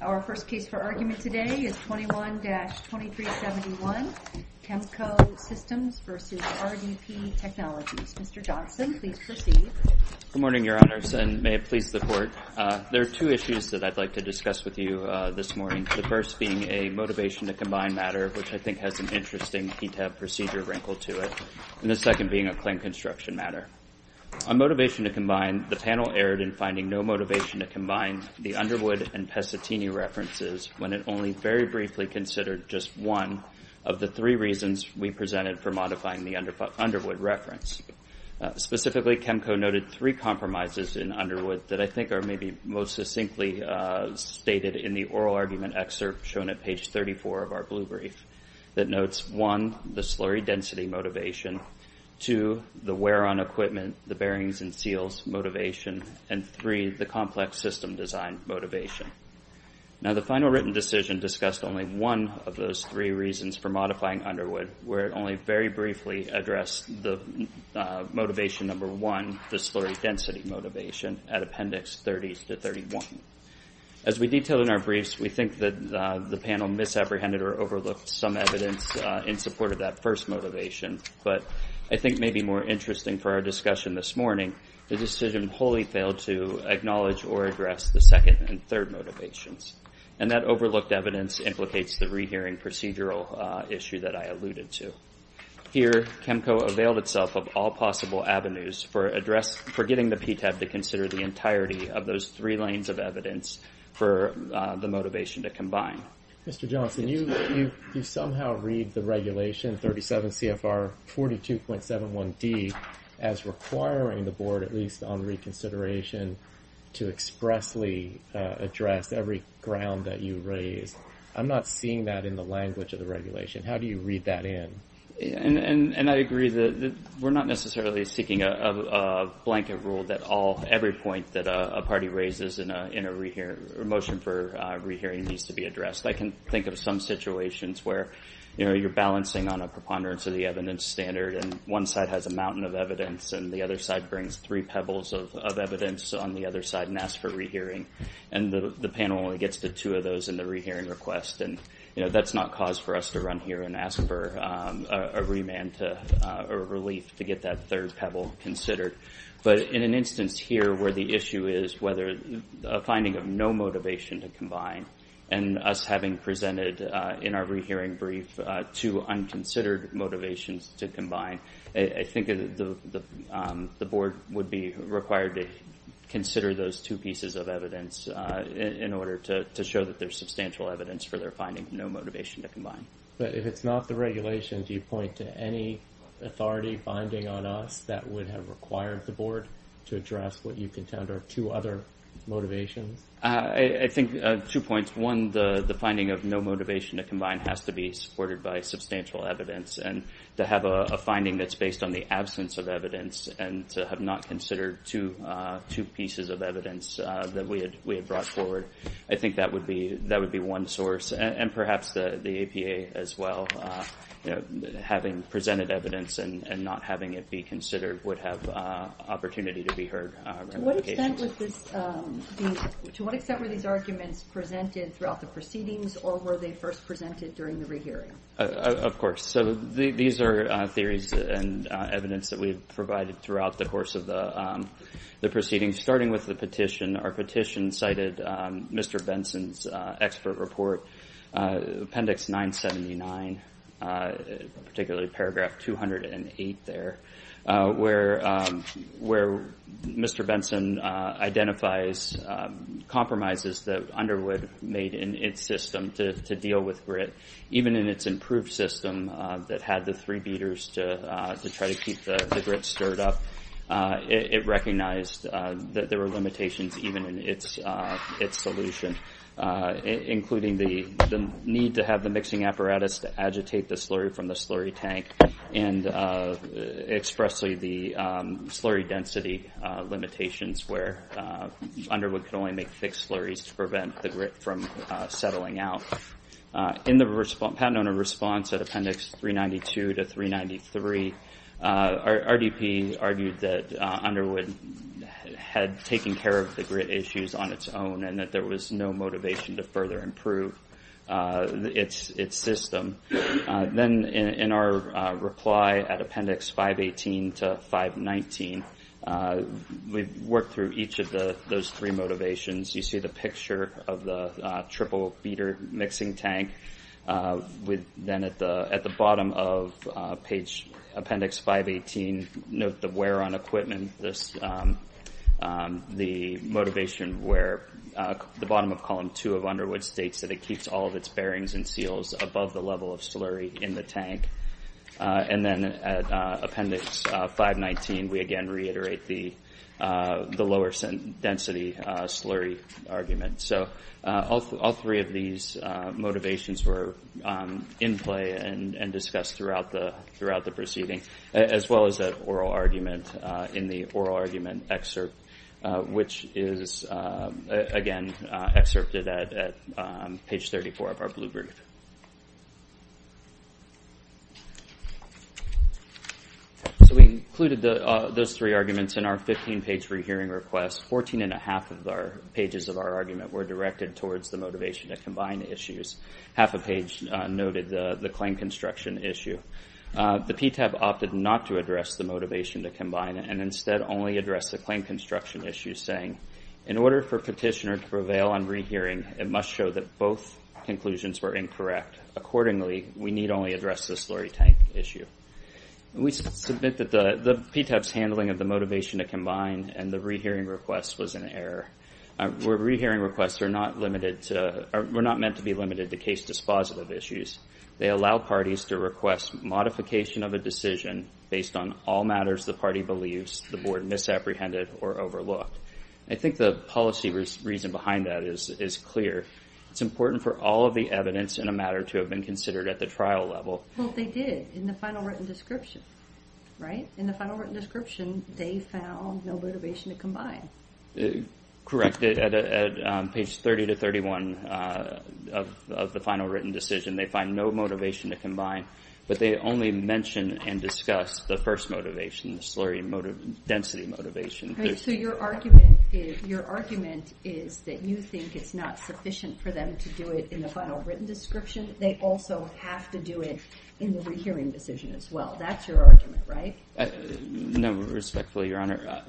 Our first case for argument today is 21-2371, Chemco Systems v. RDP Technologies. Mr. Johnson, please proceed. Good morning, Your Honors, and may it please the Court. There are two issues that I'd like to discuss with you this morning, the first being a motivation to combine matter, which I think has an interesting PTAB procedure wrinkle to it, and the second being a claim construction matter. On motivation to combine, the panel erred in finding no motivation to combine the Underwood and Pesatini references when it only very briefly considered just one of the three reasons we presented for modifying the Underwood reference. Specifically, Chemco noted three compromises in Underwood that I think are maybe most succinctly stated in the oral argument excerpt shown at page 34 of our blue brief that notes, one, the slurry density motivation, two, the wear on equipment, the bearings and seals motivation, and three, the complex system design motivation. Now, the final written decision discussed only one of those three reasons for modifying Underwood, where it only very briefly addressed the motivation number one, the slurry density motivation, at Appendix 30-31. As we detail in our briefs, we think that the panel misapprehended or overlooked some evidence in support of that first motivation, but I think maybe more interesting for our discussion this morning, the decision wholly failed to acknowledge or address the second and third motivations, and that overlooked evidence implicates the rehearing procedural issue that I alluded to. Here, Chemco availed itself of all possible avenues for getting the PTAB to consider the entirety of those three lanes of evidence for the motivation to combine. Mr. Johnson, you somehow read the regulation 37 CFR 42.71D as requiring the Board, at least on reconsideration, to expressly address every ground that you raised. I'm not seeing that in the language of the regulation. How do you read that in? And I agree that we're not necessarily seeking a blanket rule that every point that a party raises in a motion for rehearing needs to be addressed. I can think of some situations where, you know, you're balancing on a preponderance of the evidence standard, and one side has a mountain of evidence, and the other side brings three pebbles of evidence on the other side and asks for rehearing, and the panel only gets to two of those in the rehearing request, and, you know, that's not cause for us to run here and ask for a remand or relief to get that third pebble considered. But in an instance here where the issue is whether a finding of no motivation to combine and us having presented in our rehearing brief two unconsidered motivations to combine, I think the Board would be required to consider those two pieces of evidence in order to show that there's substantial evidence for their finding no motivation to combine. But if it's not the regulation, do you point to any authority binding on us that would have required the Board to address what you contend are two other motivations? I think two points. One, the finding of no motivation to combine has to be supported by substantial evidence, and to have a finding that's based on the absence of evidence and to have not considered two pieces of evidence that we had brought forward, I think that would be one source. And perhaps the APA as well, you know, having presented evidence and not having it be considered would have opportunity to be heard. To what extent were these arguments presented throughout the proceedings, or were they first presented during the rehearing? Of course. So these are theories and evidence that we've provided throughout the course of the proceedings. Starting with the petition, our petition cited Mr. Benson's expert report, appendix 979, particularly paragraph 208 there, where Mr. Benson identifies compromises that Underwood made in its system to deal with grit, even in its improved system that had the three beaters to try to keep the grit stirred up. It recognized that there were limitations even in its solution, including the need to have the mixing apparatus to agitate the slurry from the slurry tank, and expressly the slurry density limitations where Underwood could only make thick slurries to prevent the grit from settling out. In the Patent Owner response at appendix 392 to 393, RDP argued that Underwood had taken care of the grit issues on its own, and that there was no motivation to further improve its system. Then in our reply at appendix 518 to 519, we've worked through each of those three motivations. You see the picture of the at the bottom of page appendix 518, note the wear on equipment, the motivation where the bottom of column two of Underwood states that it keeps all of its bearings and seals above the level of slurry in the tank. And then at appendix 519, we again reiterate the lower density slurry argument. So all three of these motivations were in play and discussed throughout the proceeding, as well as that oral argument in the oral argument excerpt, which is again excerpted at page 34 of our blue brief. So we included those three arguments in our 15-page rehearing request. Fourteen and a half of our pages of our argument were directed towards the motivation to combine issues. Half a page noted the claim construction issue. The PTAB opted not to address the motivation to combine, and instead only addressed the claim construction issue, saying, in order for petitioner to prevail on rehearing, it must show that both conclusions were incorrect. Accordingly, we need only address the slurry tank issue. We submit that the PTAB's handling of the motivation to combine and the rehearing request was an error. Rehearing requests are not meant to be limited to case dispositive issues. They allow parties to request modification of a decision based on all matters the party believes the board misapprehended or overlooked. I think the policy reason behind that is clear. It's important for all of the evidence in a matter to have been considered at the trial level. Well, they did in the final written description, right? In the final written description, they found no motivation to combine. Correct. At page 30 to 31 of the final written decision, they find no motivation to combine, but they only mention and discuss the first motivation, the slurry density motivation. So your argument is that you think it's not sufficient for them to do it in the final written description. They also have to do it in the rehearing decision as well. That's your argument, right? No, respectfully, Your Honor.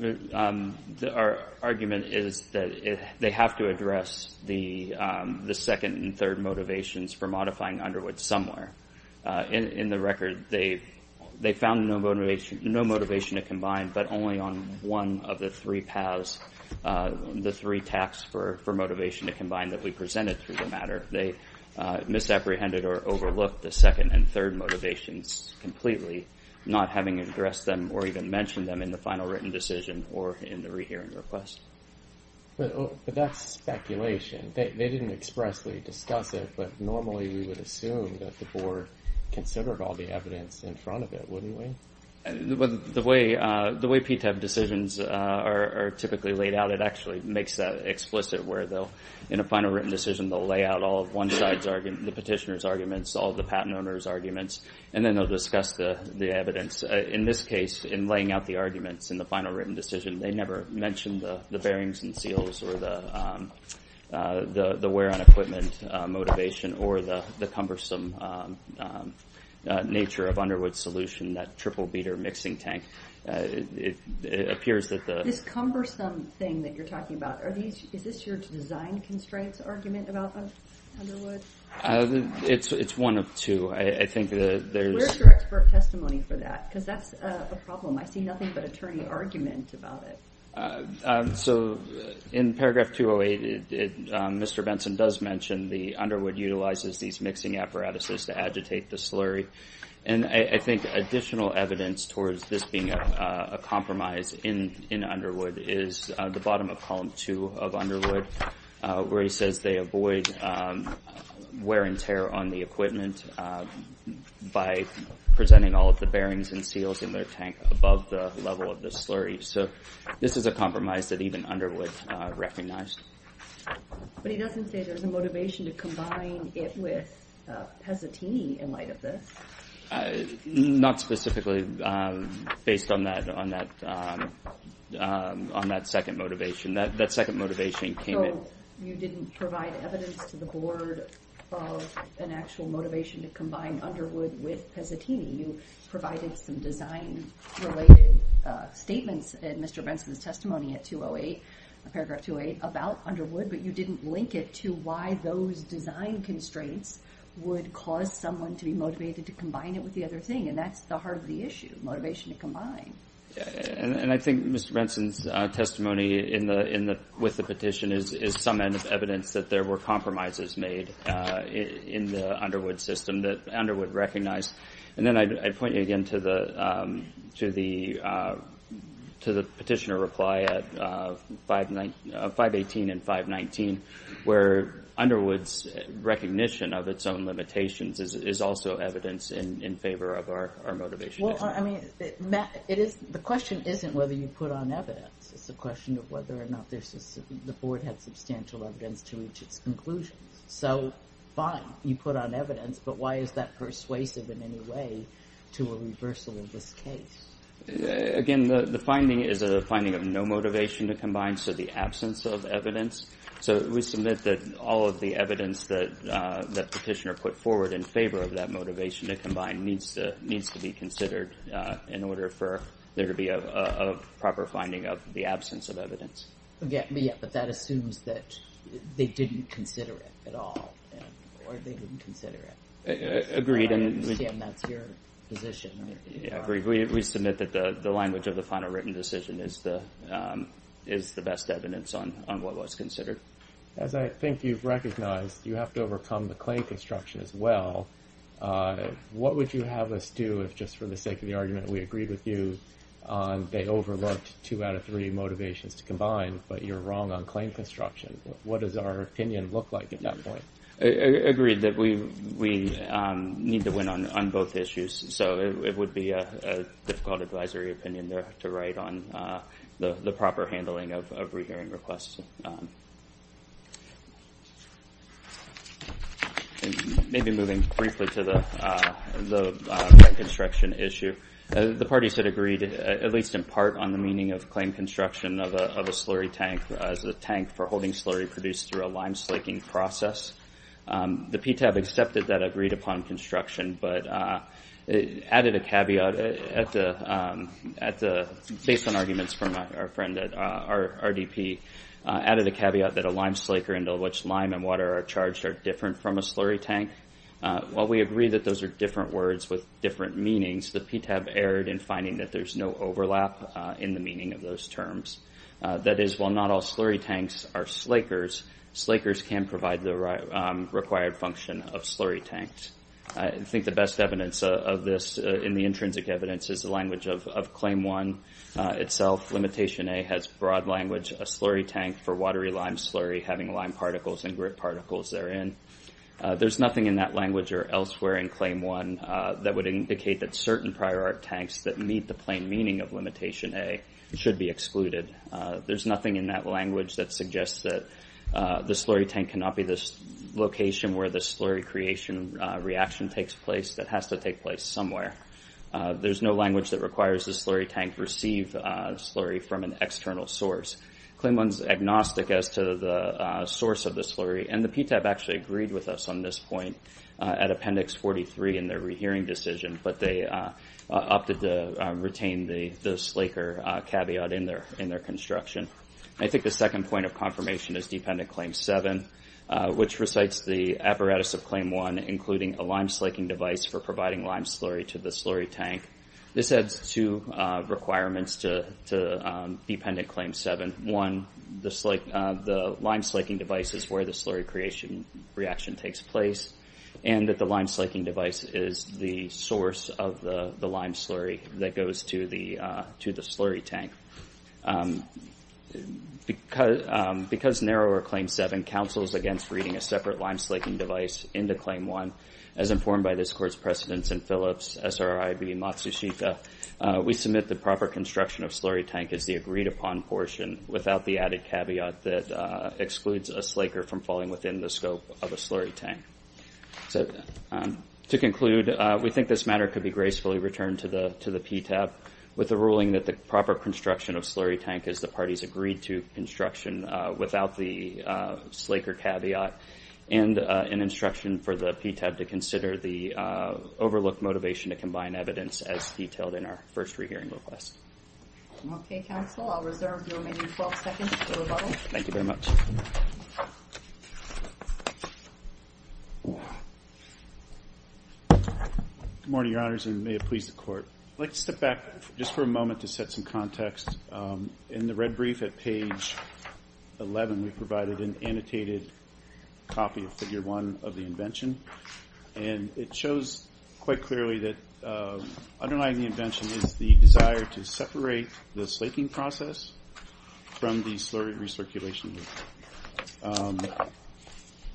Our argument is that they have to address the second and third motivations for modifying Underwood somewhere. In the record, they found no motivation to combine, but only on one of the three paths, the three paths for motivation to combine that we presented through the matter, they misapprehended or overlooked the second and third motivations completely, not having addressed them or even mentioned them in the final written decision or in the rehearing request. But that's speculation. They didn't expressly discuss it, but normally we would assume that the board considered all the evidence in front of it, wouldn't we? The way PTAB decisions are typically laid out, it actually makes that explicit where they'll, in a final written decision, they'll lay out all of one side's argument, the petitioner's arguments, all the patent owner's arguments, and then they'll discuss the evidence. In this case, in laying out the arguments in the final written decision, they never mentioned the bearings and seals or the wear on equipment motivation or the cumbersome nature of Underwood's solution, that triple cumbersome thing that you're talking about. Is this your design constraints argument about Underwood? It's one of two. Where's your expert testimony for that? Because that's a problem. I see nothing but attorney argument about it. So in paragraph 208, Mr. Benson does mention the Underwood utilizes these mixing apparatuses to agitate the slurry. And I think additional evidence towards this being a compromise in Underwood is the bottom of column two of Underwood, where he says they avoid wear and tear on the equipment by presenting all of the bearings and seals in their tank above the level of the slurry. So this is a compromise that even Underwood recognized. But he doesn't say there's a motivation to combine it with Pesatini in light of this. I not specifically based on that on that on that second motivation, that that second motivation came in. You didn't provide evidence to the board of an actual motivation to combine Underwood with Pesatini. You provided some design related statements in Mr. Benson's testimony at 208, paragraph 208 about Underwood, but you didn't link it to why those design constraints would cause someone to be motivated to combine it with the other thing. And that's the heart of the issue, motivation to combine. And I think Mr. Benson's testimony with the petition is some evidence that there were compromises made in the Underwood system that Underwood recognized. And then I'd point you again to the petitioner reply at 518 and 519, where Underwood's recognition of its own limitations is also evidence in favor of our motivation. Well, I mean, the question isn't whether you put on evidence. It's a question of whether or not the board had substantial evidence to reach its conclusions. So fine, you put on evidence, but why is that persuasive in any way to a reversal of this case? Again, the finding is a finding of no motivation to combine. So the put forward in favor of that motivation to combine needs to be considered in order for there to be a proper finding of the absence of evidence. But that assumes that they didn't consider it at all, or they didn't consider it. Agreed. And that's your position. Yeah, agreed. We submit that the language of the final written decision is the best evidence on what was as well. What would you have us do if, just for the sake of the argument, we agreed with you on they overlooked two out of three motivations to combine, but you're wrong on claim construction? What does our opinion look like at that point? Agreed that we need to win on both issues. So it would be a difficult advisory opinion there to write on the proper handling of rehearing requests. Maybe moving briefly to the construction issue. The parties had agreed, at least in part, on the meaning of claim construction of a slurry tank as a tank for holding slurry produced through a lime slaking process. The PTAB accepted that agreed upon construction, but added a caveat based on arguments from our friend at RDP, added a caveat that a lime slaker into which lime and water are charged are different from a slurry tank. While we agree that those are different words with different meanings, the PTAB erred in finding that there's no overlap in the meaning of those terms. That is, while not all slurry tanks are slakers, slakers can provide the required function of slurry tanks. I think the best evidence of this in the intrinsic evidence is the language of Claim 1 itself. Limitation A has broad language, a slurry tank for watery lime slurry having lime particles and grit particles therein. There's nothing in that language or elsewhere in Claim 1 that would indicate that certain prior art tanks that meet the plain meaning of Limitation A should be excluded. There's nothing in that language that suggests that the slurry tank cannot be the location where the slurry creation reaction takes place. That has to take place somewhere. There's no language that requires the slurry tank receive slurry from an external source. Claim 1's agnostic as to the source of the slurry, and the PTAB actually agreed with us on this point at Appendix 43 in their rehearing decision, but they opted to retain the slaker caveat in their construction. I think the second point of confirmation is Dependent Claim 7, which recites the apparatus of Claim 1, including a lime slaking device for providing lime slurry to the slurry tank. This adds two requirements to Dependent Claim 7. One, the lime slaking device is where the slurry creation reaction takes place, and that the lime slaking device is the source of the lime slurry that goes to the slurry tank. Because narrower Claim 7 counsels against reading a separate lime slaking device into Claim 1, as informed by this Court's precedents in Phillips, SRIB, Matsushita, we submit the proper construction of slurry tank as the agreed upon portion without the added caveat that excludes a slaker from falling within the scope of a slurry tank. So, to conclude, we think this matter could be gracefully returned to the PTAB with the ruling that the proper construction of slurry tank is the parties agreed to construction without the slaker caveat, and an instruction for the PTAB to consider the overlooked motivation to combine evidence as detailed in our first hearing request. Okay, counsel, I'll reserve your remaining 12 seconds for rebuttal. Thank you very much. Good morning, Your Honors, and may it please the Court. I'd like to step back just for a moment to set some context. In the red brief at page 11, we provided an annotated copy of Figure 1 of the invention is the desire to separate the slaking process from the slurry recirculation.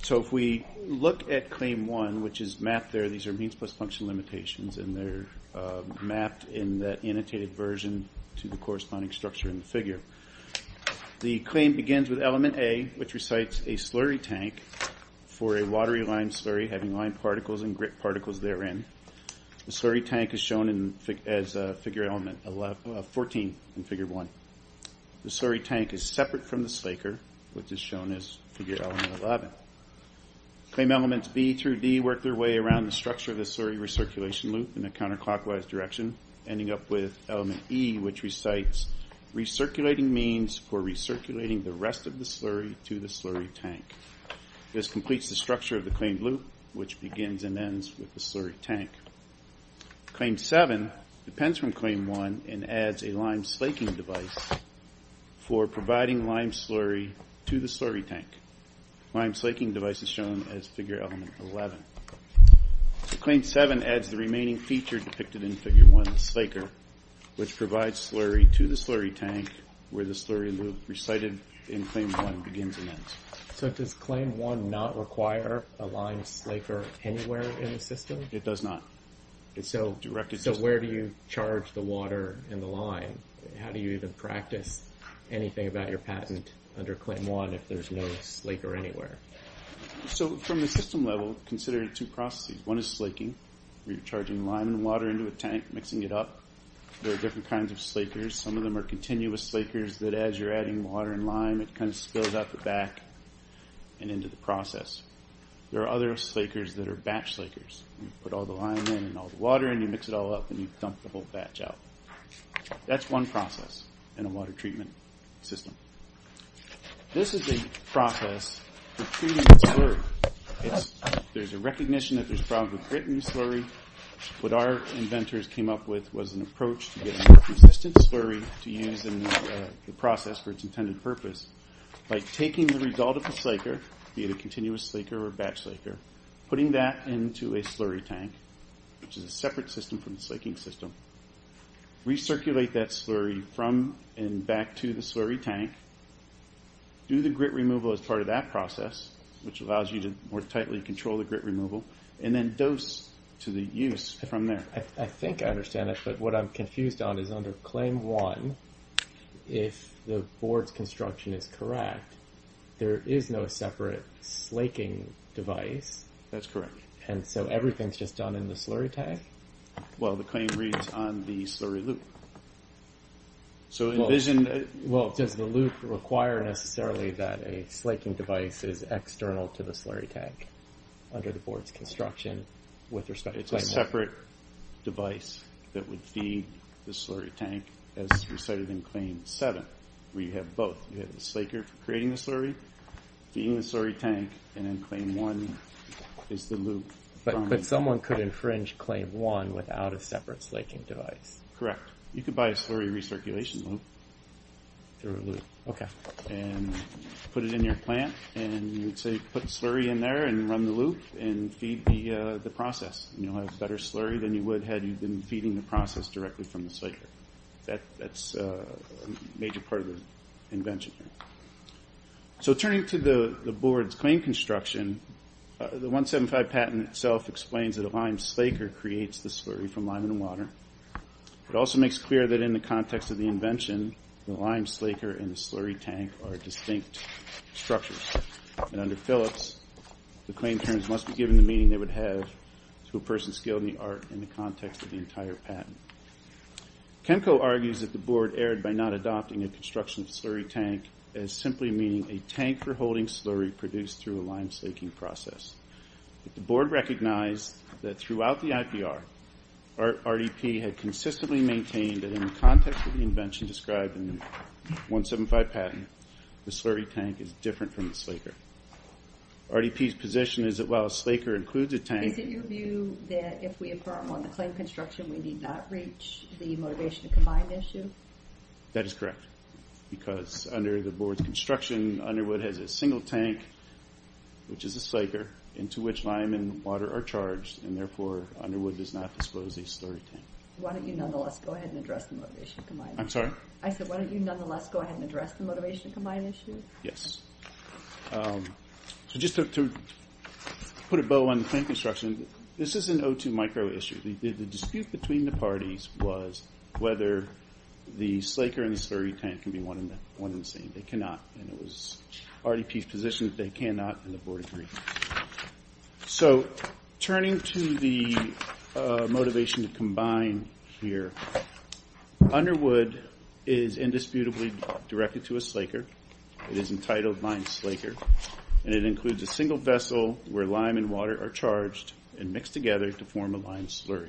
So, if we look at Claim 1, which is mapped there, these are means plus function limitations, and they're mapped in that annotated version to the corresponding structure in the figure. The claim begins with Element A, which recites a slurry tank for a watery lime slurry having lime particles and grit particles therein. The slurry tank is shown as a Figure 14 in Figure 1. The slurry tank is separate from the slaker, which is shown as Figure 11. Claim Elements B through D work their way around the structure of the slurry recirculation loop in a counterclockwise direction, ending up with Element E, which recites recirculating means for recirculating the rest of the slurry to the slurry tank. This completes the structure of the claimed loop, which begins and ends with the slurry tank. Claim 7 depends from Claim 1 and adds a lime slaking device for providing lime slurry to the slurry tank. Lime slaking device is shown as Figure Element 11. Claim 7 adds the remaining feature depicted in Figure 1 of the slaker, which provides slurry to the slurry tank where the slurry loop recited in Claim 1 begins and ends. So does Claim 1 not require a lime slaker anywhere in the system? It does not. So where do you charge the water and the lime? How do you even practice anything about your patent under Claim 1 if there's no slaker anywhere? So from the system level, consider two processes. One is slaking, where you're charging lime and water into a tank, mixing it up. There are different kinds of slakers. Some of them are continuous slakers that as you're adding water and lime, it kind of spills out the back and into the process. There are other slakers that are batch slakers. You put all the lime in and all the water in, you mix it all up, and you dump the whole batch out. That's one process in a water treatment system. This is a process for treating slurry. There's a recognition that there's a problem with grit in slurry. What our inventors came up with was an approach to getting more consistent slurry to use in the process for its intended purpose, by taking the result of the slaker, be it a continuous slaker or batch slaker, putting that into a slurry tank, which is a separate system from the slaking system, recirculate that slurry from and back to the slurry tank, do the grit removal as part of that process, which allows you to more tightly control the grit removal, and then dose to the use from there. I think I understand it, but what I'm confused on is under Claim 1, if the board's construction is correct, there is no separate slaking device. That's correct. And so everything's just done in the slurry tank? Well, the claim reads on the slurry loop. So envision... Well, does the loop require necessarily that a slaking device is external to the slurry tank under the board's construction with respect to... It's a separate device that would feed the slurry tank as recited in Claim 7, where you have both. You have the slaker for creating the slurry, feeding the slurry tank, and then Claim 1 is the loop. But someone could infringe Claim 1 without a separate slaking device? Correct. You could buy a slurry recirculation loop through a loop. Okay. And put it in your plant, and you would say put slurry in there and run the loop and feed the process. You'll have better slurry than you would had you been feeding the process directly from the slaker. That's a major part of the invention here. So turning to the board's claim construction, the 175 patent itself explains that a lime slaker creates the slurry from lime and water. It also makes clear that in the context of the invention, the lime slaker and the slurry tank are distinct structures. And under Phillips, the claim terms must be given the meaning they would have to a person skilled in the art in the context of the entire patent. Kemco argues that the board erred by not adopting a construction slurry tank as simply meaning a tank for holding slurry produced through a lime slaking process. The board recognized that throughout the IPR, RDP had consistently maintained that in the context of the invention described in 175 patent, the slurry tank is different from the slaker. RDP's position is that while a slaker includes a tank... Is it your view that if we affirm on the claim construction, we need not reach the motivation to combine issue? That is correct. Because under the board's construction, Underwood has a single tank, which is a slaker, into which lime and water are charged, and therefore Underwood does not disclose a slurry tank. Why don't you nonetheless go ahead and address the motivation to combine issue? Yes. So just to put a bow on the claim construction, this is an O2 micro issue. The dispute between the parties was whether the slaker and the slurry tank can be one and the same. They cannot, and it was RDP's position that they cannot, and the board agreed. So turning to the motivation to combine here, Underwood is indisputably directed to a slaker. It is entitled Lime Slaker, and it includes a single vessel where lime and water are charged and mixed together to form a lime slurry.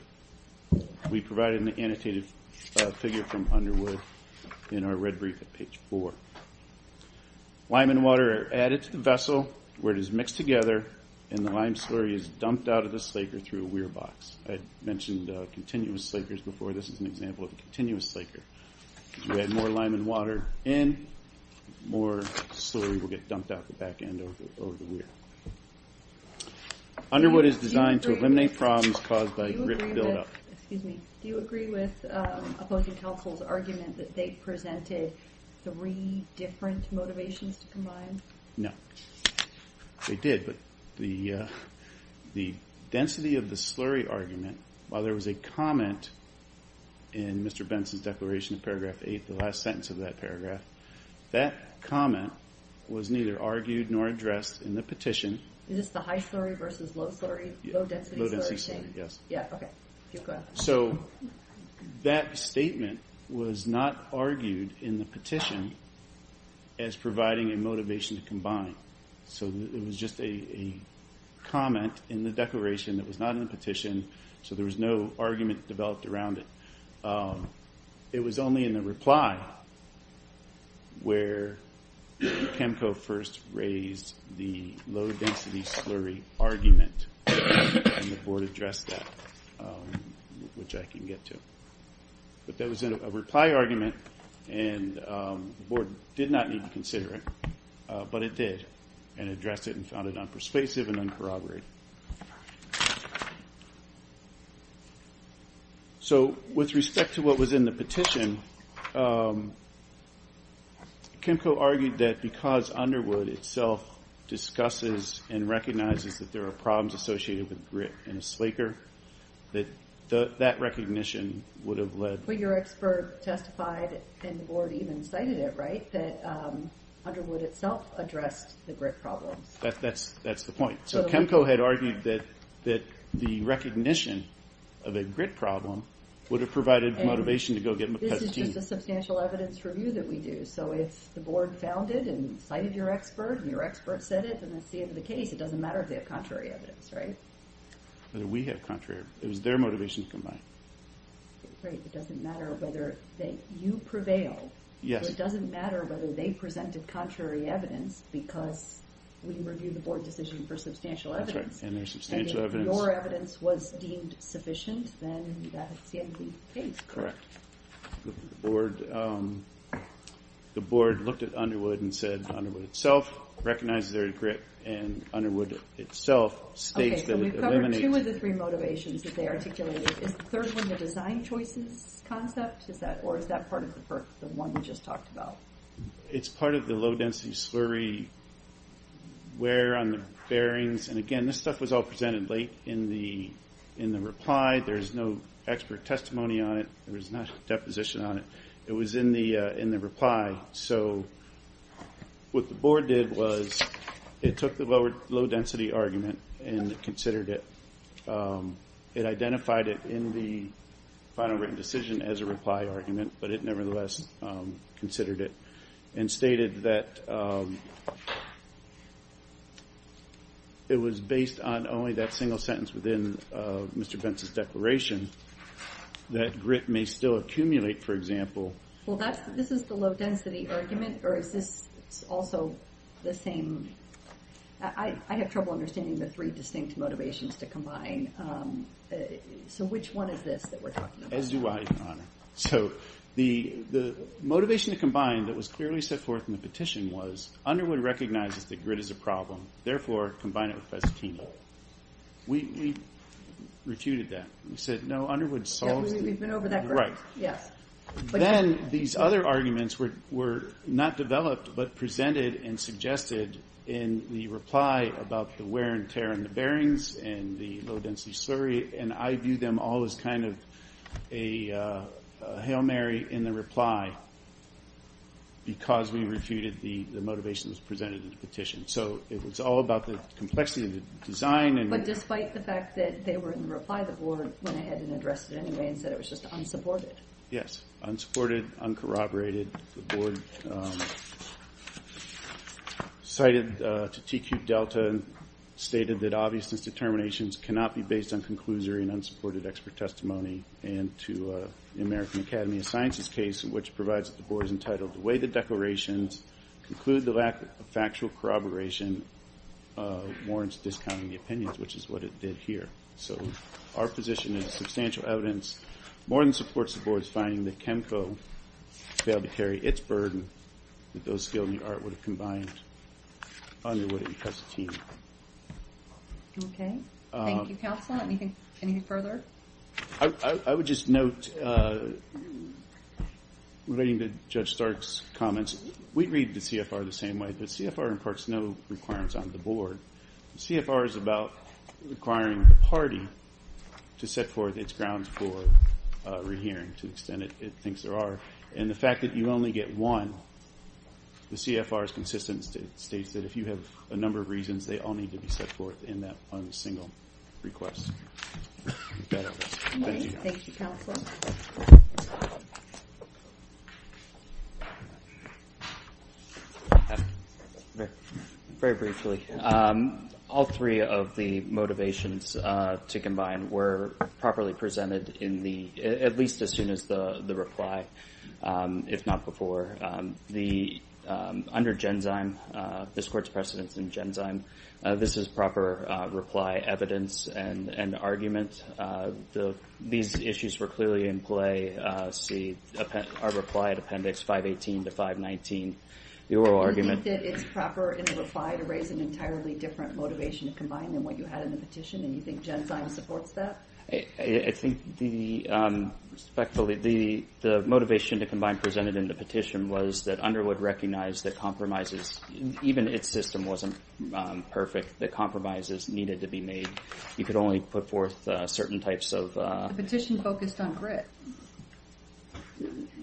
We provided an annotated figure from Underwood in our red brief at page four. Lime and water are added to the vessel where it is mixed together, and the lime slurry is dumped out of the slaker through a weir box. I mentioned continuous slakers before. This is an example of a continuous slaker. You add more lime and water in, more slurry will get dumped out the back end over the weir. Underwood is designed to eliminate problems caused by rip buildup. Do you agree with opposing counsel's argument that they presented three different motivations to combine? No. They did, but the density of the slurry argument, while there was a comment in Mr. Benson's declaration in paragraph eight, the last sentence of that paragraph, that comment was neither argued nor addressed in the petition. Is this the high slurry versus low slurry, low density slurry? Low density slurry, yes. So that statement was not argued in the petition as providing a motivation to combine. So it was just a comment in the declaration that was not in the petition, so there was no argument developed around it. It was only in the reply where CHEMCO first raised the low density slurry argument and the board addressed that, which I can get to. But that was in a reply argument and the board did not need to consider it, but it did and addressed it and found it unpersuasive and uncorroborated. So with respect to what was in the petition, CHEMCO argued that because Underwood itself discusses and recognizes that there are problems associated with grit in a slaker, that that recognition would have led... But your expert testified and the board even cited it, right, that Underwood itself addressed the grit problems. That's the point. So CHEMCO had argued that the recognition of a grit problem would have provided motivation to go get them a petition. This is just a substantial evidence review that we do, so if the board founded and cited your expert and your expert said it, then that's the end of the case. It doesn't matter if they have contrary evidence, right? Whether we have contrary, it was their motivation to combine. Right, it doesn't matter whether that you prevail. Yes. It doesn't matter whether they presented contrary evidence because we review the board decision for substantial evidence. That's right, and there's correct. The board looked at Underwood and said Underwood itself recognizes their grit and Underwood itself states that it eliminates... Okay, so we've covered two of the three motivations that they articulated. Is the third one the design choices concept, or is that part of the one we just talked about? It's part of the low density slurry wear on the bearings, and again this stuff was all presented late in the reply. There's no expert testimony on it. There was no deposition on it. It was in the reply, so what the board did was it took the lower low density argument and considered it. It identified it in the final written decision as a reply argument, but it nevertheless considered it and stated that it was based on only that single sentence within Mr. Pence's declaration that grit may still accumulate, for example. Well, this is the low density argument, or is this also the same? I have trouble understanding the three distinct motivations to combine, so which one is this that we're talking about? As do I, Your Honor. So the motivation to combine that was clearly set forth in the petition was Underwood recognizes that grit is a problem, therefore combine it with festini. We refuted that. We said no, Underwood solves it. Then these other arguments were not developed, but presented and suggested in the reply about the wear and tear in the bearings and the low density slurry, and I view them all as kind of a Hail Mary in the reply because we refuted the motivation that was presented in the petition. So it was all about the complexity of the design. But despite the fact that they were in the reply, the board went ahead and addressed it anyway and said it was just unsupported. Yes, unsupported, uncorroborated. The board cited to TQ Delta and stated that obviousness determinations cannot be based on conclusory and unsupported expert testimony and to the American Academy of Sciences case, which provides that the board is entitled to weigh the declarations, conclude the lack of factual corroboration warrants discounting the opinions, which is what it did here. So our position is substantial evidence more than supports the board's finding that CHEMCO failed to carry its burden that those skilled in the art would have combined underwood and casatini. Okay, thank you, counsel. Anything further? I would just note relating to Judge Stark's comments, we read the CFR the same way, but CFR imparts no requirements on the board. CFR is about requiring the party to set forth its grounds for rehearing to the extent it thinks there are. And the fact that you only get one, the CFR is consistent. It states that if you have a number of reasons, they all need to be set forth in that one single request. Very briefly, all three of the motivations to combine were properly presented in the, at least as soon as the reply, if not before. Under Genzyme, this court's precedence in Genzyme, this is proper reply, evidence, and argument. These issues were clearly in play, see our reply at appendix 518 to 519, the oral argument. Do you think that it's proper in the reply to raise an entirely different motivation to combine than what you had in the petition, and you think Genzyme supports that? I think the motivation to combine presented in the petition was that Underwood recognized that compromises, even its system wasn't perfect, that compromises needed to be made. You could only put forth certain types of... The petition focused on grit.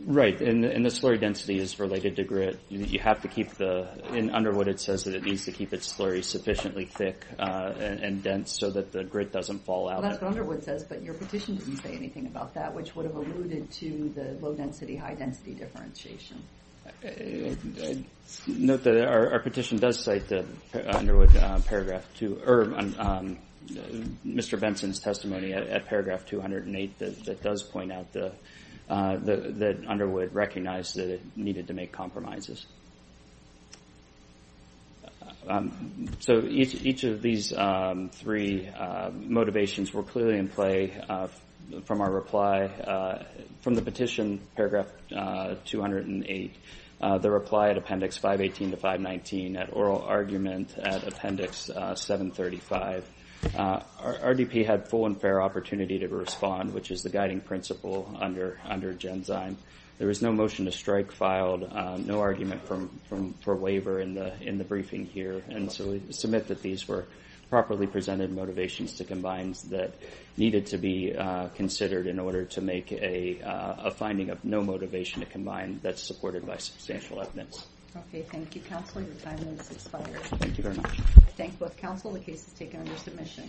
Right, and the slurry density is related to grit. You have to keep the, in Underwood it says that it needs to keep its slurry sufficiently thick and dense so that the grit doesn't fall out. That's what Underwood says, but your petition doesn't say anything about that, which would have alluded to the low density, high density differentiation. Note that our petition does cite the Underwood paragraph two, or Mr. Benson's testimony at paragraph 208 that does point out that Underwood recognized that it needed to make These three motivations were clearly in play from our reply, from the petition, paragraph 208. The reply at appendix 518 to 519 at oral argument at appendix 735. RDP had full and fair opportunity to respond, which is the guiding principle under Genzyme. There was no motion to strike filed, no argument for waiver in the briefing here, and so we submit that these were properly presented motivations to combines that needed to be considered in order to make a finding of no motivation to combine that's supported by substantial evidence. Okay, thank you, Counselor. Your time has expired. Thank you very much. Thank you both, Counselor. The case is taken under submission.